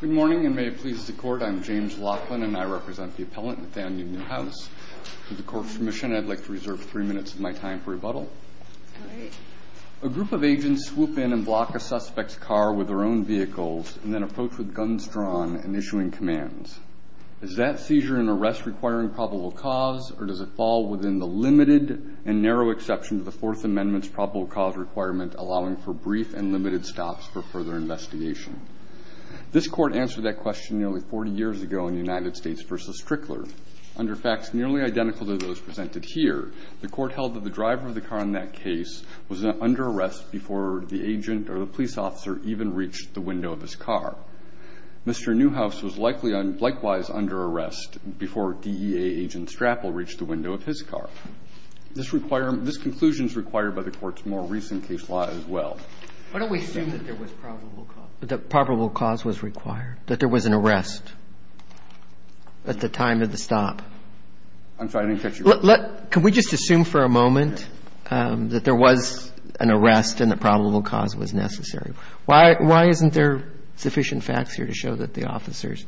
Good morning and may it please the court I'm James Laughlin and I represent the appellant Nathaniel Newhouse. With the court's permission I'd like to reserve three minutes of my time for rebuttal. A group of agents swoop in and block a suspect's car with their own vehicles and then approach with guns drawn and issuing commands. Is that seizure and arrest requiring probable cause or does it fall within the limited and narrow exception to the Fourth Amendment's probable cause requirement allowing for brief and limited stops for further investigation? This court answered that question nearly 40 years ago in United States v. Strickler. Under facts nearly identical to those presented here, the court held that the driver of the car in that case was under arrest before the agent or the police officer even reached the window of his car. Mr. Newhouse was likely and likewise under arrest before DEA agent Strapple reached the window of his car. This conclusion is required by the court's more recent case law as well. Why don't we assume that there was probable cause? That probable cause was required? That there was an arrest at the time of the stop? I'm sorry, I didn't catch your question. Can we just assume for a moment that there was an arrest and that probable cause was necessary? Why isn't there sufficient facts here to show that the officers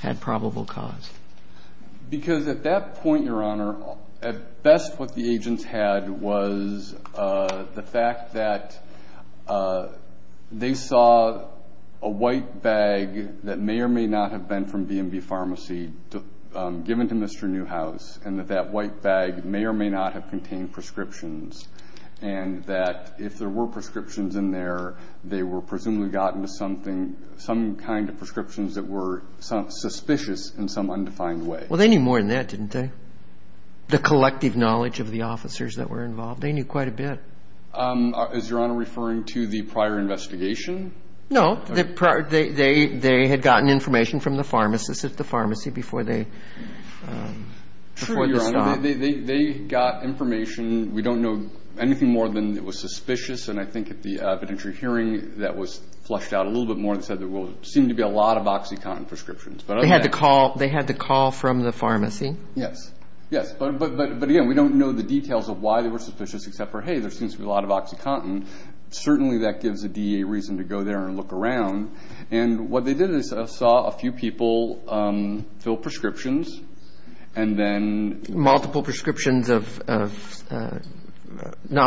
had probable cause? Because at that point, Your Honor, at best what the agents had was the fact that they saw a white bag that may or may not have been from B&B Pharmacy given to Mr. Newhouse and that that white bag may or may not have contained prescriptions and that if there were prescriptions in there, they were presumably gotten to something, some kind of prescriptions that were suspicious in some undefined way. Well, they knew more than that, didn't they? The collective knowledge of the officers that were involved, they knew quite a bit. Is Your Honor referring to the prior investigation? No, they had gotten information from the pharmacist at the pharmacy before they, before the stop. They got information, we don't know anything more than it was suspicious and I think at the evidentiary hearing that was flushed out a little bit more than said there will seem to be a lot of OxyContin prescriptions. They had the call from the pharmacy? Yes, yes. But again, we don't know the details of why they were suspicious except for, hey, there seems to be a lot of OxyContin. Certainly, that gives the DA reason to go there and look around and what they did is saw a few people fill prescriptions and then... Multiple prescriptions of not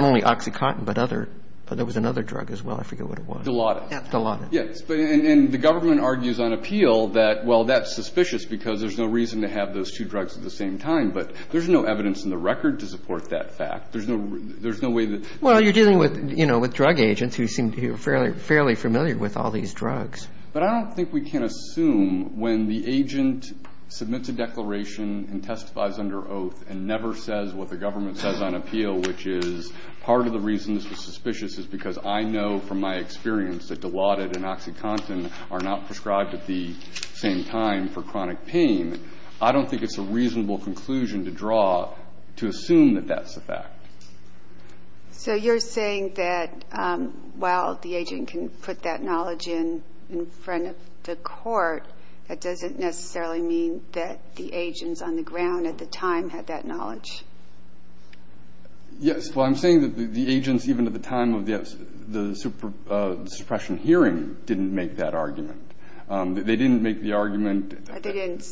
only OxyContin but other, but there was another drug as well, I forget what it was. Dilaudid. Dilaudid. Yes, and the government argues on that there's no reason to have those two drugs at the same time but there's no evidence in the record to support that fact. There's no way that... Well, you're dealing with, you know, with drug agents who seem to be fairly familiar with all these drugs. But I don't think we can assume when the agent submits a declaration and testifies under oath and never says what the government says on appeal which is part of the reason this was suspicious is because I know from my experience that Dilaudid and OxyContin are not prescribed at the same time for chronic pain. I don't think it's a reasonable conclusion to draw to assume that that's a fact. So you're saying that while the agent can put that knowledge in in front of the court, that doesn't necessarily mean that the agents on the ground at the time had that knowledge? Yes. Well, I'm saying that the agents even at the time of the suppression hearing didn't make that argument. They didn't make the argument... They didn't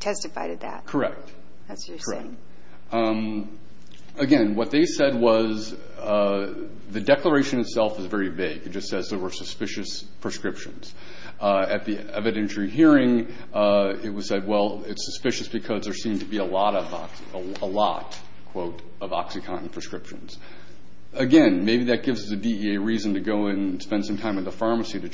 testify to that. Correct. That's what you're saying. Again, what they said was the declaration itself is very vague. It just says there were suspicious prescriptions. At the evidentiary hearing it was said, well, it's suspicious because there seemed to be a lot of OxyContin prescriptions. Again, maybe that gives us a DEA reason to go and spend some time at the pharmacy to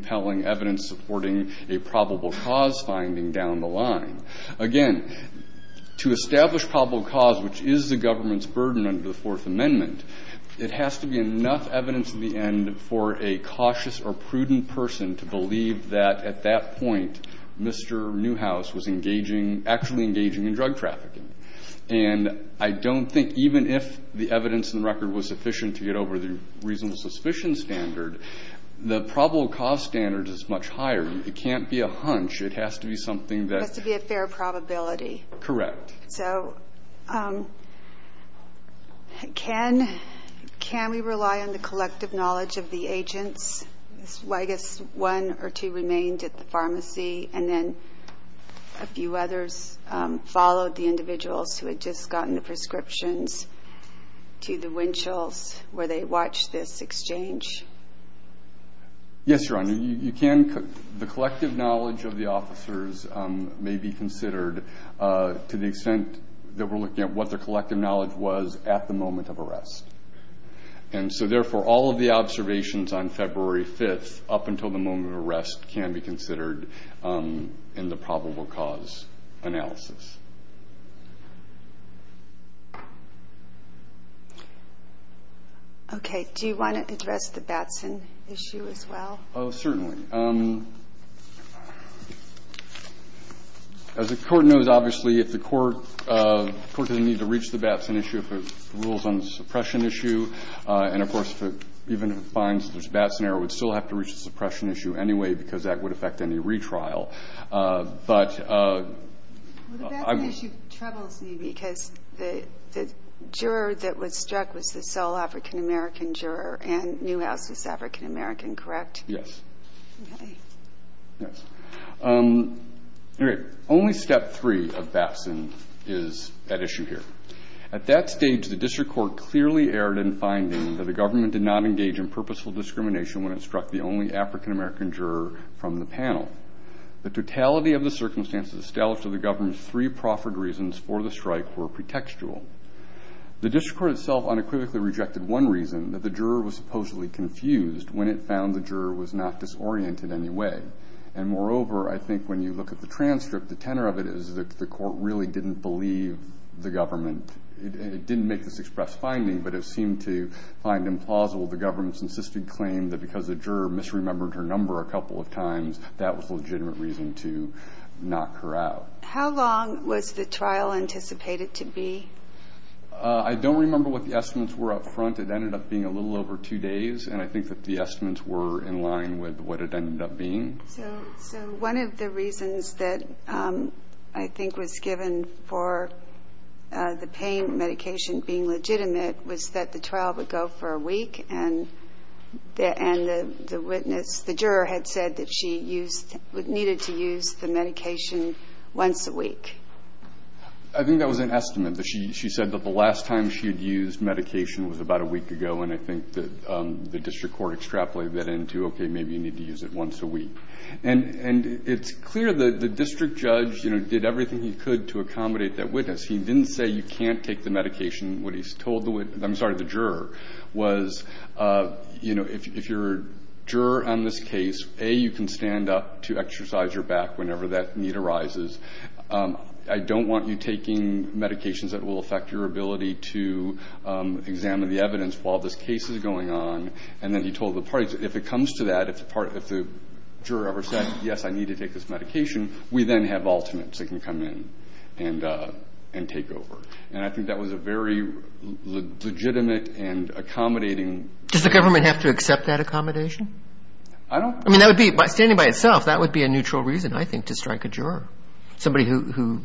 find evidence supporting a probable cause finding down the line. Again, to establish probable cause, which is the government's burden under the Fourth Amendment, it has to be enough evidence in the end for a cautious or prudent person to believe that at that point Mr. Newhouse was engaging, actually engaging in drug trafficking. And I don't think even if the evidence in the record was sufficient to get over the reasonable suspicion standard, the probable cause standard is much higher. It can't be a hunch. It has to be something that... It has to be a fair probability. Correct. So, can we rely on the collective knowledge of the agents? I guess one or two remained at the pharmacy, and then a few others followed the individuals who had just gotten the prescriptions to the Winchell's where they watched this exchange. Yes, Your Honor. You can... The collective knowledge of the officers may be considered to the extent that we're looking at what their collective knowledge was at the moment of arrest. And so therefore, all of the observations on February 5th up until the moment of arrest can be Okay. Do you want to address the Batson issue as well? Oh, certainly. As the court knows, obviously, if the court doesn't need to reach the Batson issue if it rules on the suppression issue, and of course, even if it finds there's a Batson error, it would still have to reach the suppression issue anyway because that would affect any retrial. But... Because the juror that was struck was the sole African-American juror and Newhouse was African-American, correct? Yes. Okay. Yes. Only step three of Batson is that issue here. At that stage, the district court clearly erred in finding that the government did not engage in purposeful discrimination when it struck the only African-American juror from the panel. The totality of the circumstances established to the government's three proffered reasons for the strike were pretextual. The district court itself unequivocally rejected one reason, that the juror was supposedly confused when it found the juror was not disoriented in any way. And moreover, I think when you look at the transcript, the tenor of it is that the court really didn't believe the government. It didn't make this express finding, but it seemed to find implausible the government's insisted claim that because the juror misremembered her number a couple of times, that was a legitimate reason to knock her out. How long was the trial anticipated to be? I don't remember what the estimates were up front. It ended up being a little over two days and I think that the estimates were in line with what it ended up being. So one of the reasons that I think was given for the pain medication being legitimate was that the trial would go for a week and the witness, the juror, had said that she needed to use the medication once a week. I think that was an estimate. She said that the last time she had used medication was about a week ago and I think that the district court extrapolated that into, okay, maybe you need to use it once a week. And it's clear that the district judge, you know, did everything he could to accommodate that witness. He didn't say you can't take the medication. What he told the, I'm sorry, the juror was, you know, if you're a juror on this case, A, you can stand up to exercise your back whenever that need arises. I don't want you taking medications that will affect your ability to examine the evidence while this case is going on. And then he told the parties, if it comes to that, if the juror ever said, yes, I need to take this medication, we then have alternates that can come in and take over. And I think that was a very legitimate and accommodating... Does the government have to accept that accommodation? I don't... I mean, that would be, standing by itself, that would be a neutral reason, I think, to strike a juror, somebody who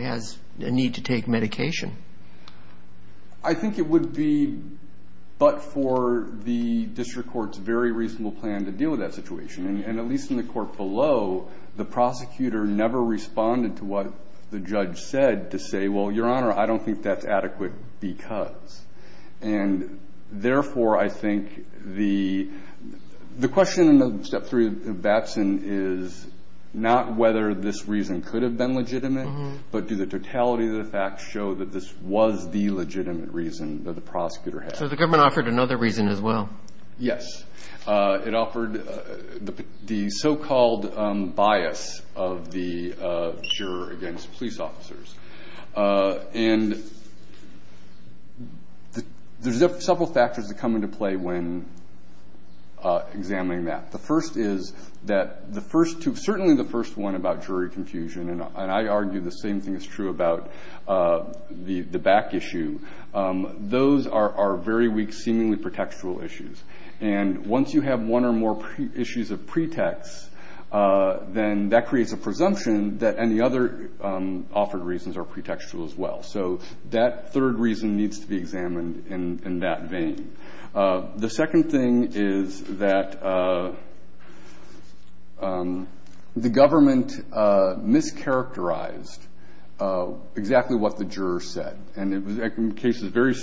has a need to take medication. I think it would be but for the district court's very reasonable plan to deal with that situation. And at least in the court below, the prosecutor never responded to what the judge said to say, well, Your Honor, I don't think that's adequate because. And therefore, I think the question in Step 3 of Batson is not whether this reason could have been legitimate, but do the totality of the facts show that this was the legitimate reason that the prosecutor had. So the government offered another reason as well? Yes. It offered the so-called bias of the juror against police officers. And there's several factors that come into play when examining that. The first is that the first two, certainly the first one about jury confusion, and I argue the same thing is true about the back issue, those are very weak, seemingly pretextual issues. And once you have one or more issues of pretext, then that creates a presumption that any other offered reasons are pretextual as well. So that third reason needs to be examined in that vein. The second thing is that the case is very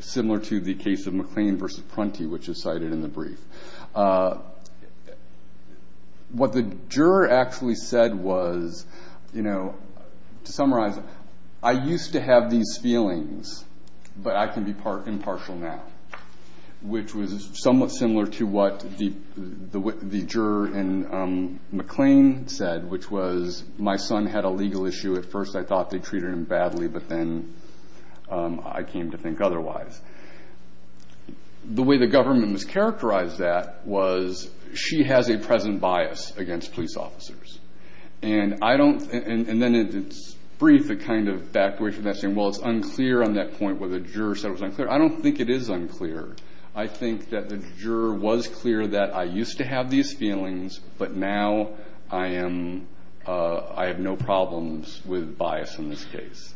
similar to the case of McLean v. Prunty, which is cited in the brief. What the juror actually said was, you know, to summarize, I used to have these feelings, but I can be impartial now, which was somewhat similar to what the juror in McLean said, which was, my son had a legal issue. At first I thought they treated him badly, but then I came to think otherwise. The way the government was characterized that was, she has a present bias against police officers. And I don't, and then in its brief, it kind of backed away from that saying, well, it's unclear on that point where the juror said it was unclear. I don't think it is unclear. I think that the juror was clear that I used to have these feelings, and I have no problems with bias in this case.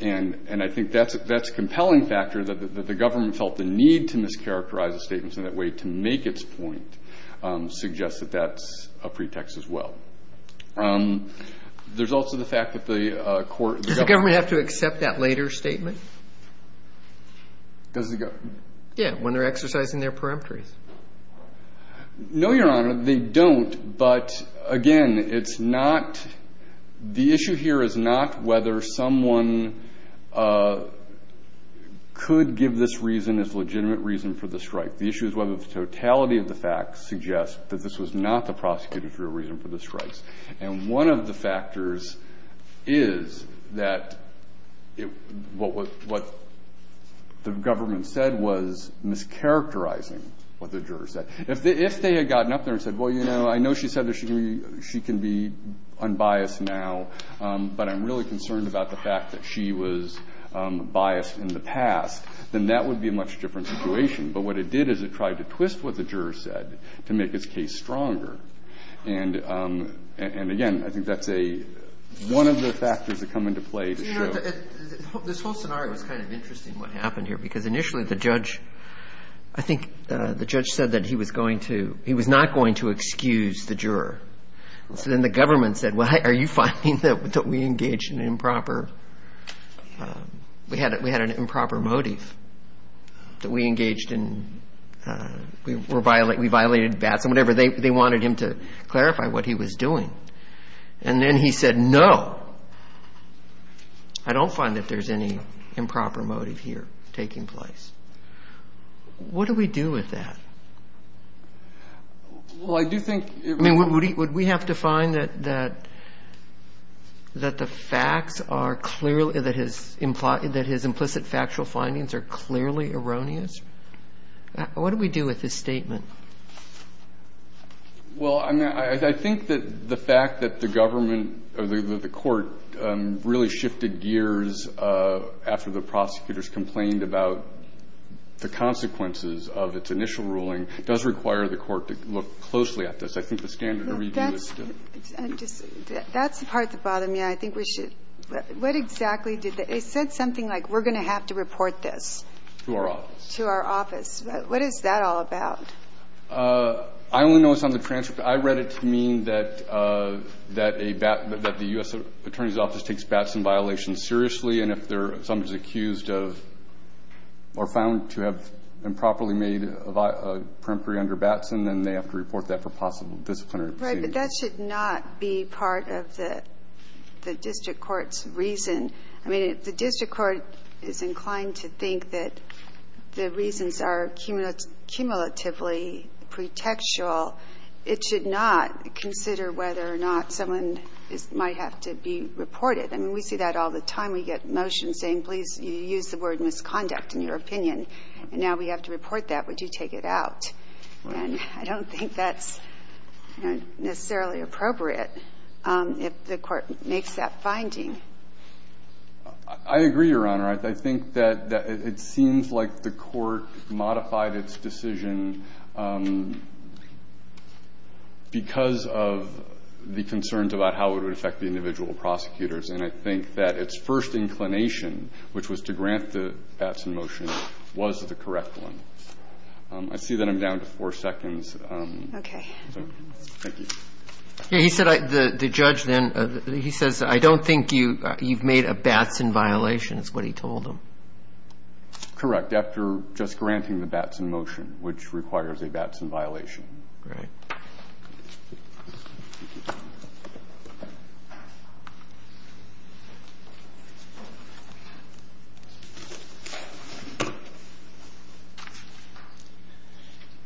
And I think that's a compelling factor that the government felt the need to mischaracterize the statements in that way to make its point suggests that that's a pretext as well. There's also the fact that the court – Does the government have to accept that later statement? Does the government? Yeah, when they're exercising their peremptories. No, Your Honor, they don't. But, again, it's not – the issue here is not whether someone could give this reason as legitimate reason for the strike. The issue is whether the totality of the facts suggest that this was not the prosecutor's real reason for the strikes. And one of the factors is that what the government said was mischaracterizing what the juror said. If they had gotten up there and said, well, you know, I know she said that she can be unbiased now, but I'm really concerned about the fact that she was biased in the past, then that would be a much different situation. But what it did is it tried to twist what the juror said to make its case stronger. And, again, I think that's a – one of the factors that come into play to show – You know, this whole scenario is kind of interesting, what happened here, because initially the judge – I think the judge said that he was going to – he was not going to excuse the juror. So then the government said, well, are you finding that we engaged in improper – we had an improper motive, that we engaged in – we violated BATS and whatever. They wanted him to clarify what he was doing. And then he said, no, I don't find that there's any improper motive here taking place. What do we do with that? Well, I do think – I mean, would he – would we have to find that the facts are clearly – that his implicit factual findings are clearly erroneous? What do we do with his statement? Well, I mean, I think that the fact that the government or the court really shifted gears after the prosecutors complained about the consequences of its initial ruling does require the court to look closely at this. I think the standard of review is – That's the part that bothered me. I think we should – what exactly did the – it said something like, we're going to have to report this. To our office. To our office. What is that all about? I only know it's on the transcript. I read it to mean that a – that the U.S. Attorney's Office takes BATS and violations seriously, and if they're – somebody's accused of – or found to have improperly made a perimphery under BATS, and then they have to report that for possible disciplinary proceedings. Right. But that should not be part of the district court's reason. I mean, if the court makes that finding, I agree, Your Honor. I think that it seems like the court modified its decision on the basis of the fact that the court had made a perimphery under BATS, because of the concerns about how it would affect the individual prosecutors. And I think that its first inclination, which was to grant the BATS in motion, was the correct one. I see that I'm down to four seconds. Okay. Thank you. He said the judge then – he says, I don't think you've made a BATS in violation, is what he told him. Correct. After just granting the BATS in motion, which requires a BATS in violation. Great. Good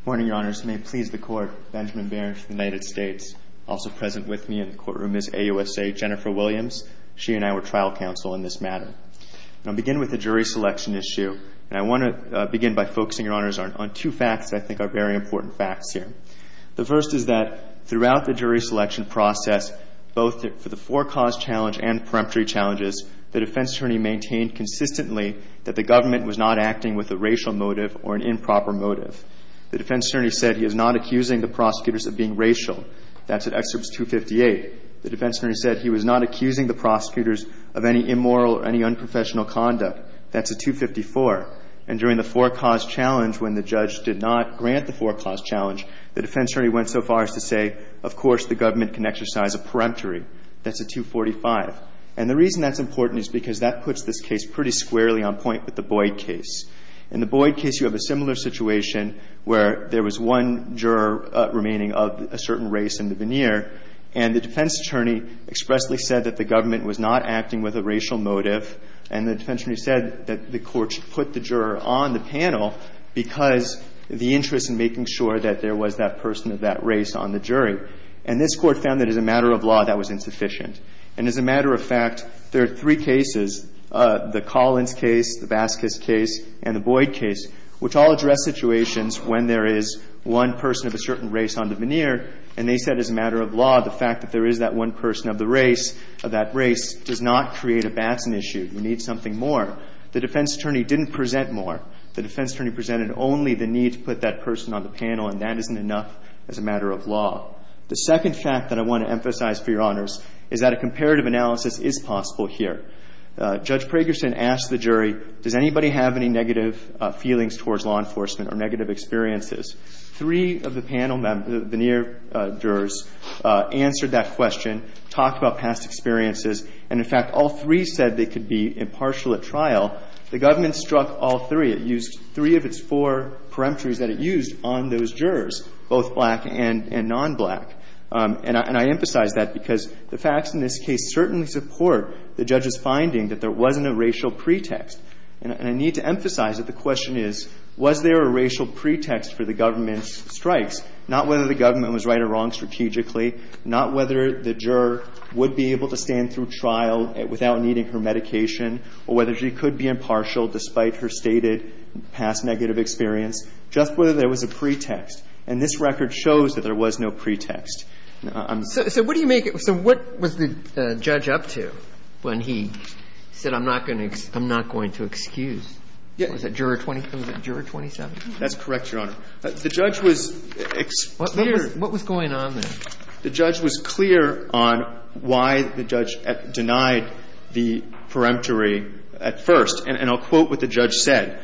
morning, Your Honors. May it please the Court, Benjamin Behrens, United States. Also present with me in the courtroom is AUSA Jennifer Williams. She and I were And I want to begin by focusing, Your Honors, on two facts that I think are very important facts here. The first is that throughout the jury selection process, both for the four-cause challenge and the peremptory challenges, the defense attorney maintained consistently that the government was not acting with a racial motive or an improper motive. The defense attorney said he is not accusing the prosecutors of being racial. That's at Excerpt 258. The defense attorney said he was not accusing the prosecutors of any immoral or any unprofessional conduct. That's at 254. And during the four-cause challenge, when the judge did not grant the four-cause challenge, the defense attorney went so far as to say, of course, the government can exercise a peremptory. That's at 245. And the reason that's important is because that puts this case pretty squarely on point with the Boyd case. In the Boyd case, you have a similar situation where there was one juror remaining of a certain race in the veneer, and the defense attorney expressly said that the government was not acting with a racial motive, and the defense attorney said that the Court should put the juror on the panel because the interest in making sure that there was that person of that race on the jury. And this Court found that as a matter of law, that was insufficient. And as a matter of fact, there are three cases, the Collins case, the Vasquez case, and the Boyd case, which all address situations when there is one person of a certain race on the veneer, and they said as a matter of law, the fact that there is that one person of the race, of that race, does not create a Batson issue. We need something more. The defense attorney didn't present more. The defense attorney presented only the need to put that person on the panel, and that isn't enough as a matter of law. The second fact that I want to emphasize for Your Honors is that a comparative analysis is possible here. Judge Pragerson asked the jury, does anybody have any negative feelings towards law enforcement or negative experiences? Three of the panel members, veneer jurors, answered that question, talked about past experiences. And in fact, all three said they could be impartial at trial. The government struck all three. It used three of its four peremptories that it used on those jurors, both black and nonblack. And I emphasize that because the facts in this case certainly support the judge's finding that there wasn't a racial pretext. And I need to emphasize that the question is, was there a racial pretext for the government's strikes, not whether the government was right or wrong strategically, not whether the juror would be able to stand through trial without needing her medication, or whether she could be impartial despite her stated past negative experience, just whether there was a pretext. And this record shows that there was no pretext. So what do you make it – so what was the judge up to when he said, I'm not going to – I'm not going to excuse? Yeah. Was it juror 20 – was it juror 27? That's correct, Your Honor. The judge was – What was going on there? The judge was clear on why the judge denied the peremptory at first. And I'll quote what the judge said.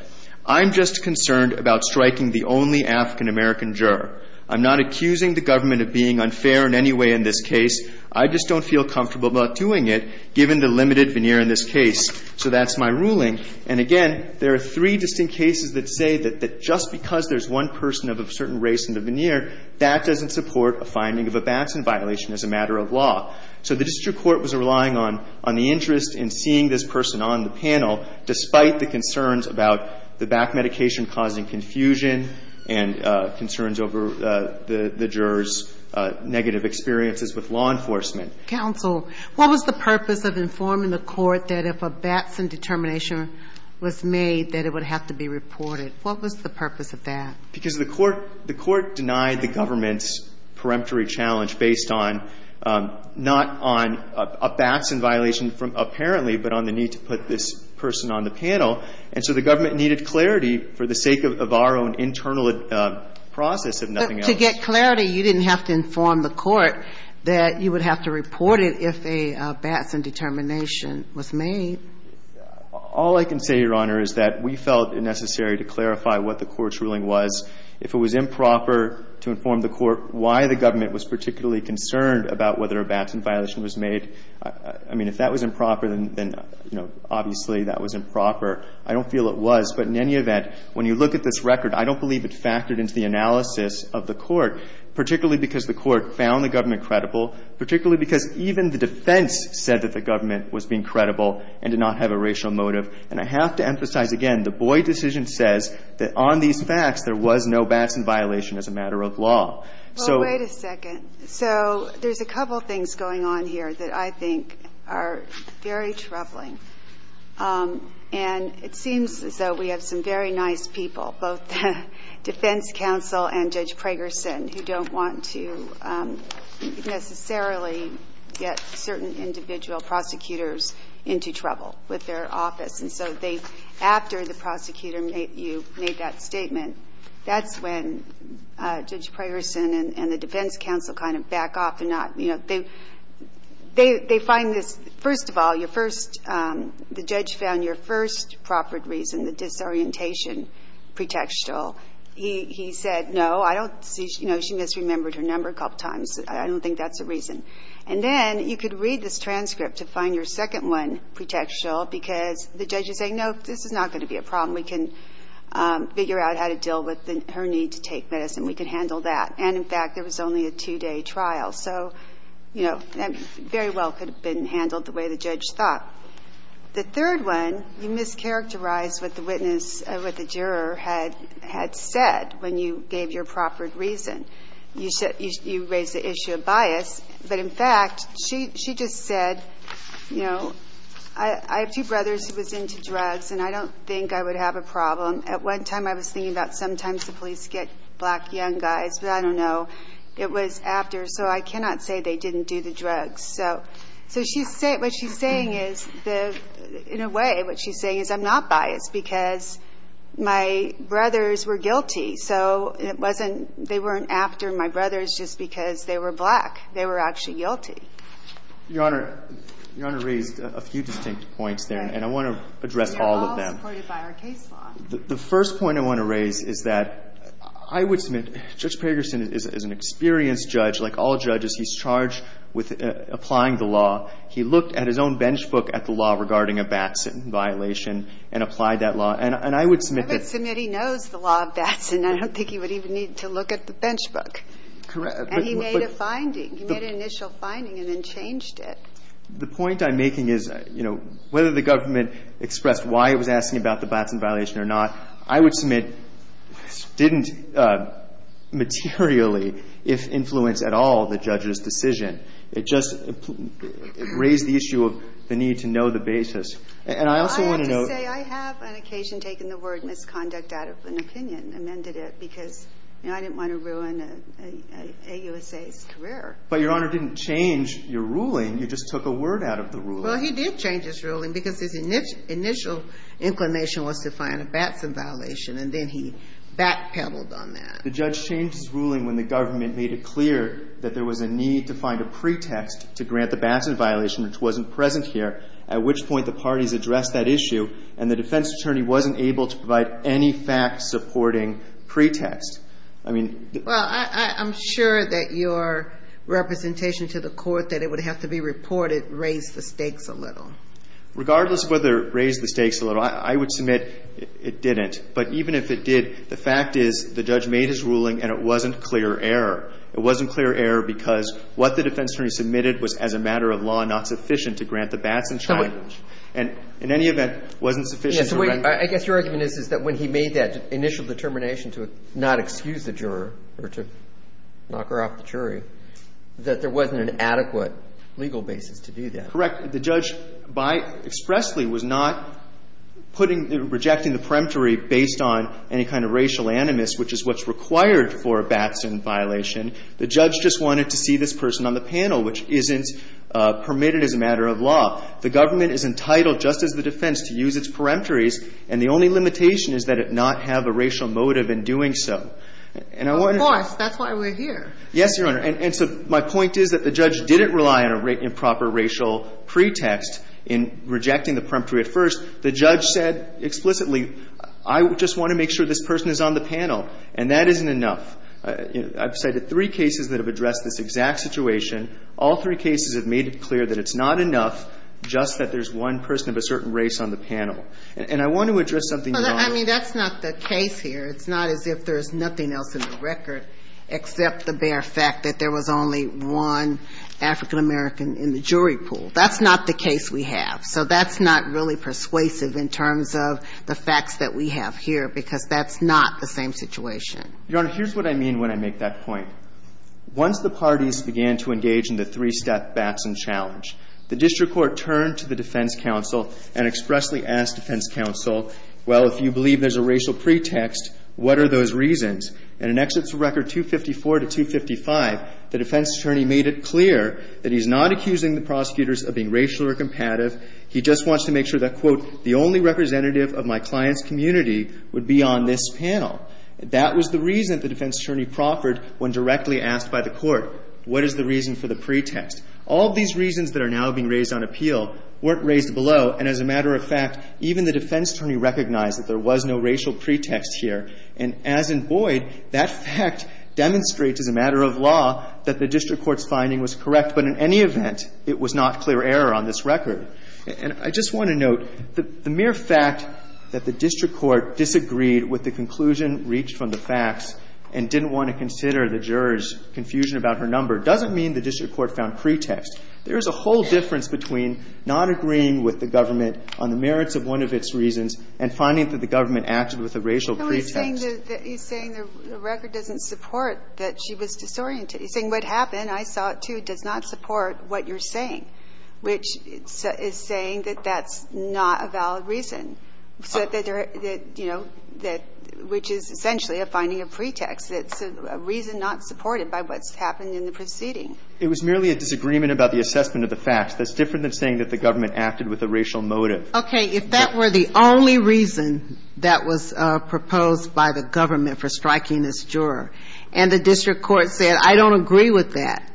I'm just concerned about striking the only African-American juror. I'm not accusing the government of being unfair in any way in this case. I just don't feel comfortable about doing it given the limited veneer in this case. So that's my ruling. And again, there are three distinct cases that say that just because there's one person of a certain race in the veneer, that doesn't support a finding of a Batson violation as a matter of law. So the district court was relying on the interest in seeing this person on the panel despite the concerns about the back medication causing confusion and concerns over the juror's negative experiences with law enforcement. Counsel, what was the purpose of informing the court that if a Batson determination was made that it would have to be reported? What was the purpose of that? Because the court – the court denied the government's peremptory challenge based on – not on a Batson violation from – apparently, but on the need to put this person on the panel. And so the government needed clarity for the sake of our own internal process, if nothing else. But to get clarity, you didn't have to inform the court that you would have to report it if a Batson determination was made. All I can say, Your Honor, is that we felt it necessary to clarify what the court's ruling was. If it was improper to inform the court why the government was particularly concerned about whether a Batson violation was made, I mean, if that was improper, then, you know, obviously that was improper. I don't feel it was. But in any event, when you look at this record, I don't believe it factored into the analysis of the court, particularly because the court found the government credible, particularly because even the defense said that the government was being credible and did not have a racial motive. And I have to emphasize again, the Boyd decision says that on these facts, there was no Batson violation as a matter of law. So – And it seems as though we have some very nice people, both the defense counsel and Judge Pragerson, who don't want to necessarily get certain individual prosecutors into trouble with their office. And so they – after the prosecutor made – you made that statement, that's when Judge Pragerson and the defense counsel kind of back off and not – you know, they – they find this – first of all, your first – the judge found your first proper reason, the disorientation pretextual. He said, no, I don't see – you know, she misremembered her number a couple times. I don't think that's a reason. And then you could read this transcript to find your second one pretextual because the judge is saying, no, this is not going to be a problem. We can figure out how to deal with her need to take medicine. We can handle that. And in fact, there was only a two-day trial. So, you know, that very well could have been handled the way the judge thought. The third one, you mischaracterized what the witness – what the juror had said when you gave your proper reason. You raised the issue of bias. But in fact, she just said, you know, I have two brothers who was into drugs, and I don't think I would have a problem. At one time, I was thinking about sometimes the police get black young guys, but I don't know. It was after. So I cannot say they didn't do the drugs. So she's – what she's saying is the – in a way, what she's saying is I'm not biased because my brothers were guilty. So it wasn't – they weren't after my brothers just because they were black. They were actually guilty. Your Honor, your Honor raised a few distinct points there, and I want to address all of them. They're all supported by our case law. The first point I want to raise is that I would submit Judge Pegerson is an experienced judge. Like all judges, he's charged with applying the law. He looked at his own bench book at the law regarding a Batson violation and applied that law. And I would submit that – I would submit he knows the law of Batson. I don't think he would even need to look at the bench book. Correct. And he made a finding. He made an initial finding and then changed it. The point I'm making is, you know, whether the government expressed why it was asking about the Batson violation or not, I would submit didn't materially, if influenced at all, the judge's decision. It just raised the issue of the need to know the basis. And I also want to note – I have to say I have on occasion taken the word misconduct out of an opinion, amended it, because, you know, I didn't want to ruin an AUSA's career. But, Your Honor, it didn't change your ruling. You just took a word out of the ruling. Well, he did change his ruling because his initial inclination was to find a Batson violation, and then he backpedaled on that. The judge changed his ruling when the government made it clear that there was a need to find a pretext to grant the Batson violation, which wasn't present here, at which point the parties addressed that issue, and the defense attorney wasn't able to provide any fact-supporting pretext. I mean – Well, I'm sure that your representation to the court that it would have to be reported to the court to make sure that it raised the stakes a little. Regardless of whether it raised the stakes a little, I would submit it didn't. But even if it did, the fact is the judge made his ruling and it wasn't clear error. It wasn't clear error because what the defense attorney submitted was as a matter of law not sufficient to grant the Batson challenge. And in any event, it wasn't sufficient to – Yes. So I guess your argument is that when he made that initial determination to not excuse the juror or to knock her off the jury, that there wasn't an adequate legal basis to do that. Correct. The judge by – expressly was not putting – rejecting the peremptory based on any kind of racial animus, which is what's required for a Batson violation. The judge just wanted to see this person on the panel, which isn't permitted as a matter of law. The government is entitled, just as the defense, to use its peremptories, and the only limitation is that it not have a racial motive in doing so. And I want to – Of course. That's why we're here. Yes, Your Honor. And so my point is that the judge didn't rely on a improper racial pretext in rejecting the peremptory at first. The judge said explicitly, I just want to make sure this person is on the panel, and that isn't enough. I've cited three cases that have addressed this exact situation. All three cases have made it clear that it's not enough just that there's one person of a certain race on the panel. And I want to address something, Your Honor. Well, I mean, that's not the case here. It's not as if there's nothing else in the record except the bare fact that there was only one African-American in the jury pool. That's not the case we have. So that's not really persuasive in terms of the facts that we have here, because that's not the same situation. Your Honor, here's what I mean when I make that point. Once the parties began to engage in the three-step Batson challenge, the district court turned to the defense counsel and expressly asked defense counsel, well, if you believe there's a racial pretext, what are those reasons? And in Exits Record 254 to 255, the defense attorney made it clear that he's not accusing the prosecutors of being racial or compatible. He just wants to make sure that, quote, the only representative of my client's community would be on this panel. That was the reason the defense attorney proffered when directly asked by the court, what is the reason for the pretext? All of these reasons that are now being raised on appeal weren't raised below. And as a matter of fact, even the defense attorney recognized that there was no racial pretext here. And as in Boyd, that fact demonstrates as a matter of law that the district court's finding was correct. But in any event, it was not clear error on this record. And I just want to note that the mere fact that the district court disagreed with the conclusion reached from the facts and didn't want to consider the jurors' confusion about her number doesn't mean the district court found pretext. There is a whole difference between not agreeing with the government on the merits of one of its reasons and finding that the government acted with a racial pretext. He's saying the record doesn't support that she was disoriented. He's saying what happened, I saw it, too, does not support what you're saying, which is saying that that's not a valid reason. So that, you know, which is essentially a finding of pretext. It's a reason not supported by what's happened in the proceeding. It was merely a disagreement about the assessment of the facts. That's different than saying that the government acted with a racial motive. Okay. If that were the only reason that was proposed by the government for striking this juror, and the district court said, I don't agree with that,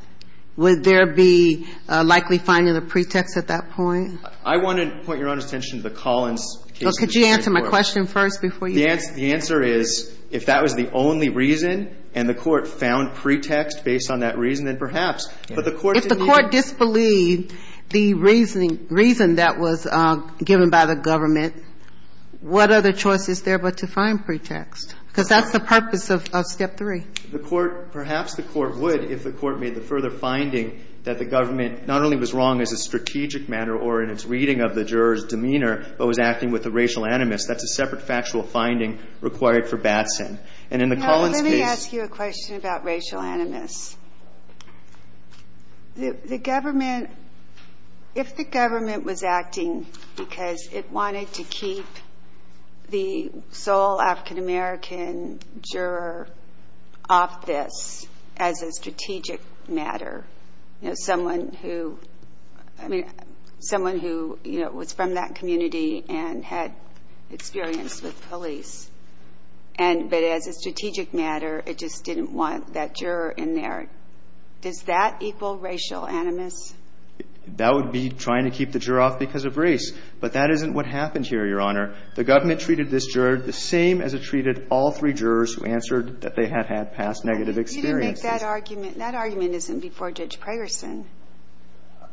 would there be a likely finding of pretext at that point? I want to point Your Honor's attention to the Collins case. Well, could you answer my question first before you answer? The answer is if that was the only reason and the court found pretext based on that reason, then perhaps. If the court disbelieved the reasoning, reason that was given by the government, what other choice is there but to find pretext? Because that's the purpose of step three. Perhaps the court would if the court made the further finding that the government not only was wrong as a strategic matter or in its reading of the juror's demeanor, but was acting with a racial animus. That's a separate factual finding required for Batson. And in the Collins case. Now, let me ask you a question about racial animus. The government, if the government was acting because it wanted to keep the sole African-American juror off this as a strategic matter, you know, someone who, I mean, someone who, you know, was from that community and had experience with police. And but as a strategic matter, it just didn't want that juror in there. Does that equal racial animus? That would be trying to keep the juror off because of race. But that isn't what happened here, Your Honor. The government treated this juror the same as it treated all three jurors who answered that they had had past negative experiences. You didn't make that argument. That argument isn't before Judge Prayerson.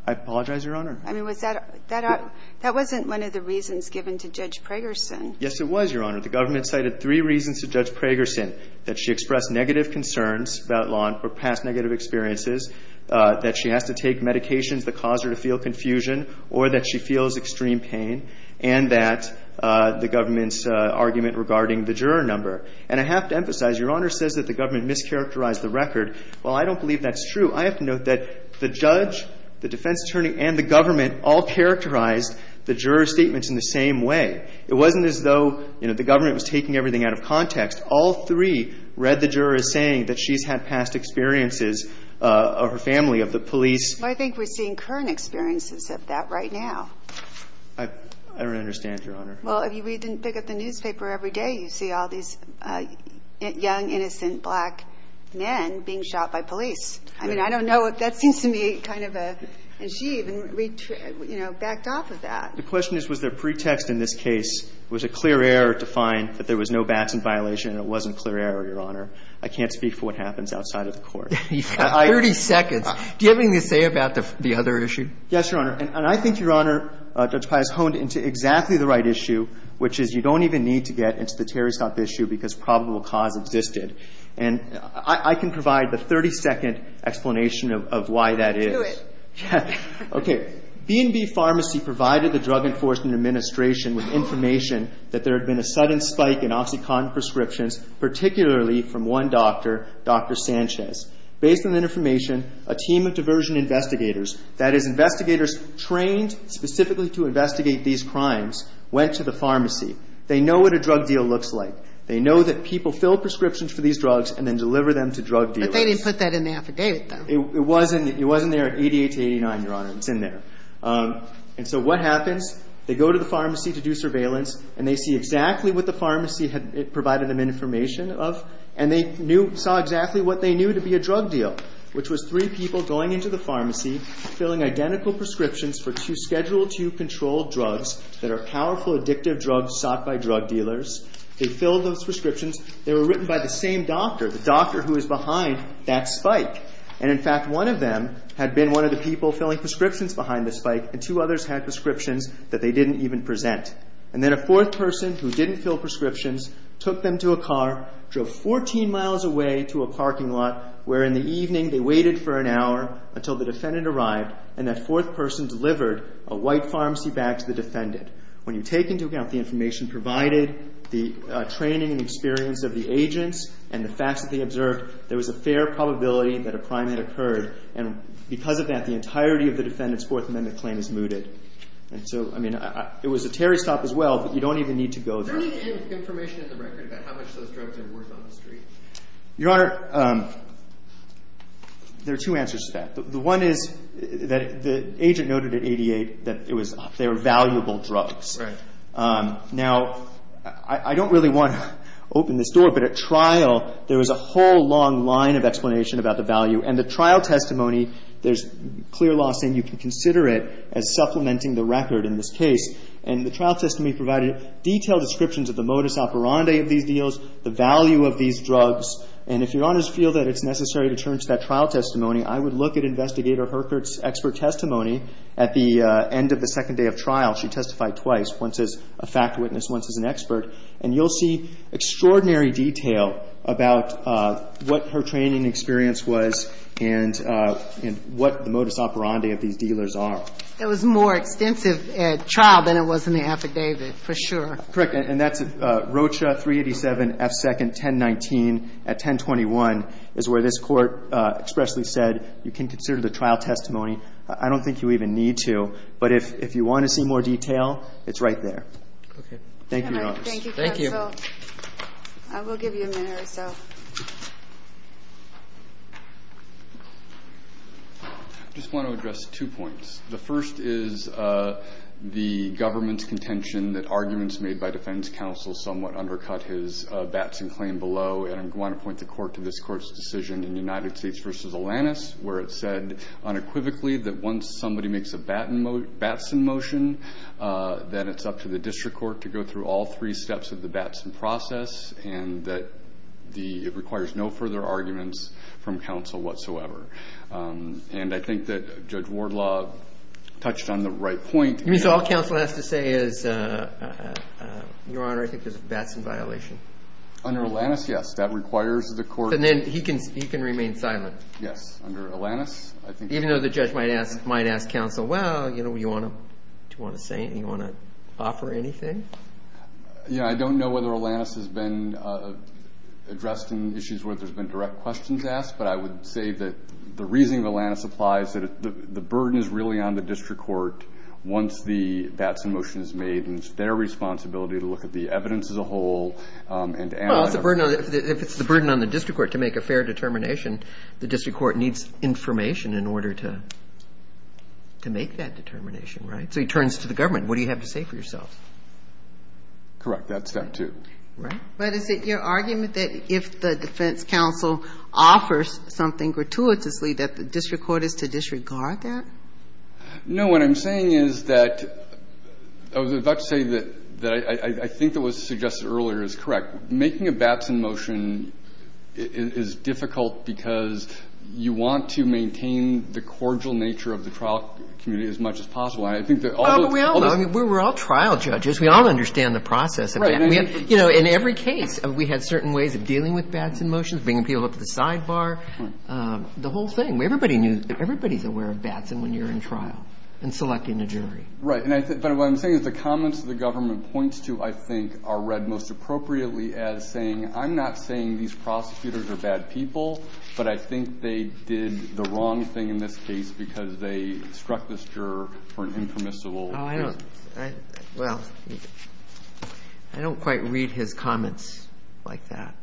I apologize, Your Honor. I mean, was that – that wasn't one of the reasons given to Judge Prayerson. Yes, it was, Your Honor. The government cited three reasons to Judge Prayerson, that she expressed negative concerns about law or past negative experiences, that she has to take medications that cause her to feel confusion or that she feels extreme pain, and that the government's argument regarding the juror number. And I have to emphasize, Your Honor says that the government mischaracterized the record. Well, I don't believe that's true. I have to note that the judge, the defense attorney, and the government all characterized the juror's statements in the same way. It wasn't as though, you know, the government was taking everything out of context. All three read the juror as saying that she's had past experiences of her family, of the police. Well, I think we're seeing current experiences of that right now. I don't understand, Your Honor. Well, if you read the – look at the newspaper every day, you see all these young, innocent black men being shot by police. I mean, I don't know if that seems to me kind of a – and she even, you know, backed off of that. The question is, was there pretext in this case, was it clear error to find that there was no Batson violation and it wasn't clear error, Your Honor? I can't speak for what happens outside of the Court. You've got 30 seconds. Do you have anything to say about the other issue? Yes, Your Honor. And I think, Your Honor, Judge Pius honed into exactly the right issue, which is you don't even need to get into the Terry Scott issue because probable cause existed. And I can provide the 30-second explanation of why that is. Do it. Okay. B&B Pharmacy provided the Drug Enforcement Administration with information that there had been a sudden spike in OxyContin prescriptions, particularly from one doctor, Dr. Sanchez. Based on that information, a team of diversion investigators, that is, investigators trained specifically to investigate these crimes, went to the pharmacy. They know what a drug deal looks like. They know that people fill prescriptions for these drugs and then deliver them to drug dealers. But they didn't put that in the affidavit, though. It wasn't there at 88 to 89, Your Honor. It's in there. And so what happens? They go to the pharmacy to do surveillance, and they see exactly what the pharmacy had provided them information of, and they knew – saw exactly what they knew to be a drug deal, which was three people going into the pharmacy, filling identical prescriptions for two Schedule II controlled drugs that are powerful, addictive drugs sought by drug dealers. They filled those prescriptions. They were written by the same doctor, the doctor who was behind that spike. And in fact, one of them had been one of the people filling prescriptions behind the spike, and two others had prescriptions that they didn't even present. And then a fourth person who didn't fill prescriptions took them to a car, drove 14 miles away to a parking lot, where in the evening they waited for an hour until the defendant arrived, and that fourth person delivered a white pharmacy bag to the defendant. When you take into account the information provided, the training and experience of the agents, and the facts that they observed, there was a fair probability that a crime had occurred. And because of that, the entirety of the defendant's Fourth Amendment claim is mooted. And so, I mean, it was a tarry stop as well, but you don't even need to go there. Is there any information in the record about how much those drugs are worth on the street? Your Honor, there are two answers to that. The one is that the agent noted at 88 that it was they were valuable drugs. Right. Now, I don't really want to open this door, but at trial, there was a whole long line of explanation about the value. And the trial testimony, there's clear law saying you can consider it as supplementing the record in this case. And the trial testimony provided detailed descriptions of the modus operandi of these deals, the value of these drugs. And if Your Honors feel that it's necessary to turn to that trial testimony, I would look at Investigator Herkert's expert testimony at the end of the second day of trial. She testified twice, once as a fact witness, once as an expert. And you'll see extraordinary detail about what her training experience was and what the modus operandi of these dealers are. It was more extensive at trial than it was in the affidavit, for sure. Correct. And that's Rocha 387F2nd 1019 at 1021 is where this court expressly said you can consider the trial testimony. I don't think you even need to. But if you want to see more detail, it's right there. Okay. Thank you, Your Honors. Thank you, counsel. I will give you a minute or so. I just want to address two points. The first is the government's contention that arguments made by defense counsel somewhat undercut his Batson claim below. And I want to point the court to this court's decision in United States v. Alanis where it said unequivocally that once somebody makes a Batson motion, then it's up to the district court to go through all three steps of the Batson process and that it requires no further arguments from counsel whatsoever. And I think that Judge Wardlaw touched on the right point. You mean so all counsel has to say is, Your Honor, I think there's a Batson violation? Under Alanis, yes. That requires the court. And then he can remain silent. Yes. Under Alanis, I think. Even though the judge might ask counsel, well, do you want to say anything? Do you want to offer anything? Yeah. I don't know whether Alanis has been addressed in issues where there's been direct questions asked, but I would say that the reason Alanis applies is that the burden is really on the district court once the Batson motion is made. And it's their responsibility to look at the evidence as a whole. Well, if it's the burden on the district court to make a fair determination, the district court needs information in order to make that determination, right? So he turns to the government. What do you have to say for yourself? Correct. That's step two. Right. But is it your argument that if the defense counsel offers something gratuitously that the district court is to disregard that? No. What I'm saying is that I was about to say that I think that what was suggested earlier is correct. Making a Batson motion is difficult because you want to maintain the cordial nature of the trial community as much as possible. And I think that although we all know, we're all trial judges. We all understand the process. Right. In every case, we had certain ways of dealing with Batson motions, bringing people up to the sidebar, the whole thing. Everybody's aware of Batson when you're in trial and selecting a jury. Right. But what I'm saying is the comments the government points to, I think, are read most appropriately as saying, I'm not saying these prosecutors are bad people, but I think they did the wrong thing in this case because they struck this juror for an impermissible reason. Well, I don't quite read his comments like that.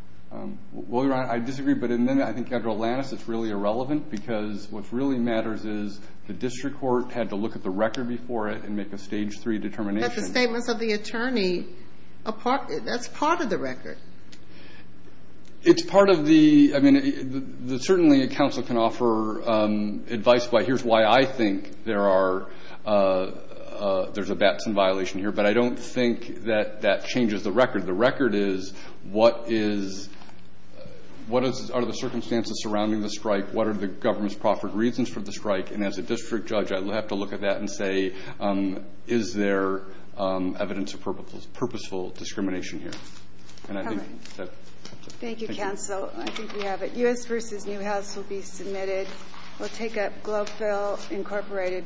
Well, Your Honor, I disagree. But in the end, I think, after Atlantis, it's really irrelevant because what really matters is the district court had to look at the record before it and make a stage three determination. But the statements of the attorney, that's part of the record. It's part of the – I mean, certainly a counsel can offer advice by, here's why I think there are – there's a Batson violation here. But I don't think that that changes the record. The record is what is – what are the circumstances surrounding the strike? What are the government's proffered reasons for the strike? And as a district judge, I have to look at that and say, is there evidence of purposeful discrimination here? And I think that's it. Thank you, counsel. I think we have it. U.S. v. Newhouse will be submitted. We'll take up Globeville Incorporated v. Element Spirits.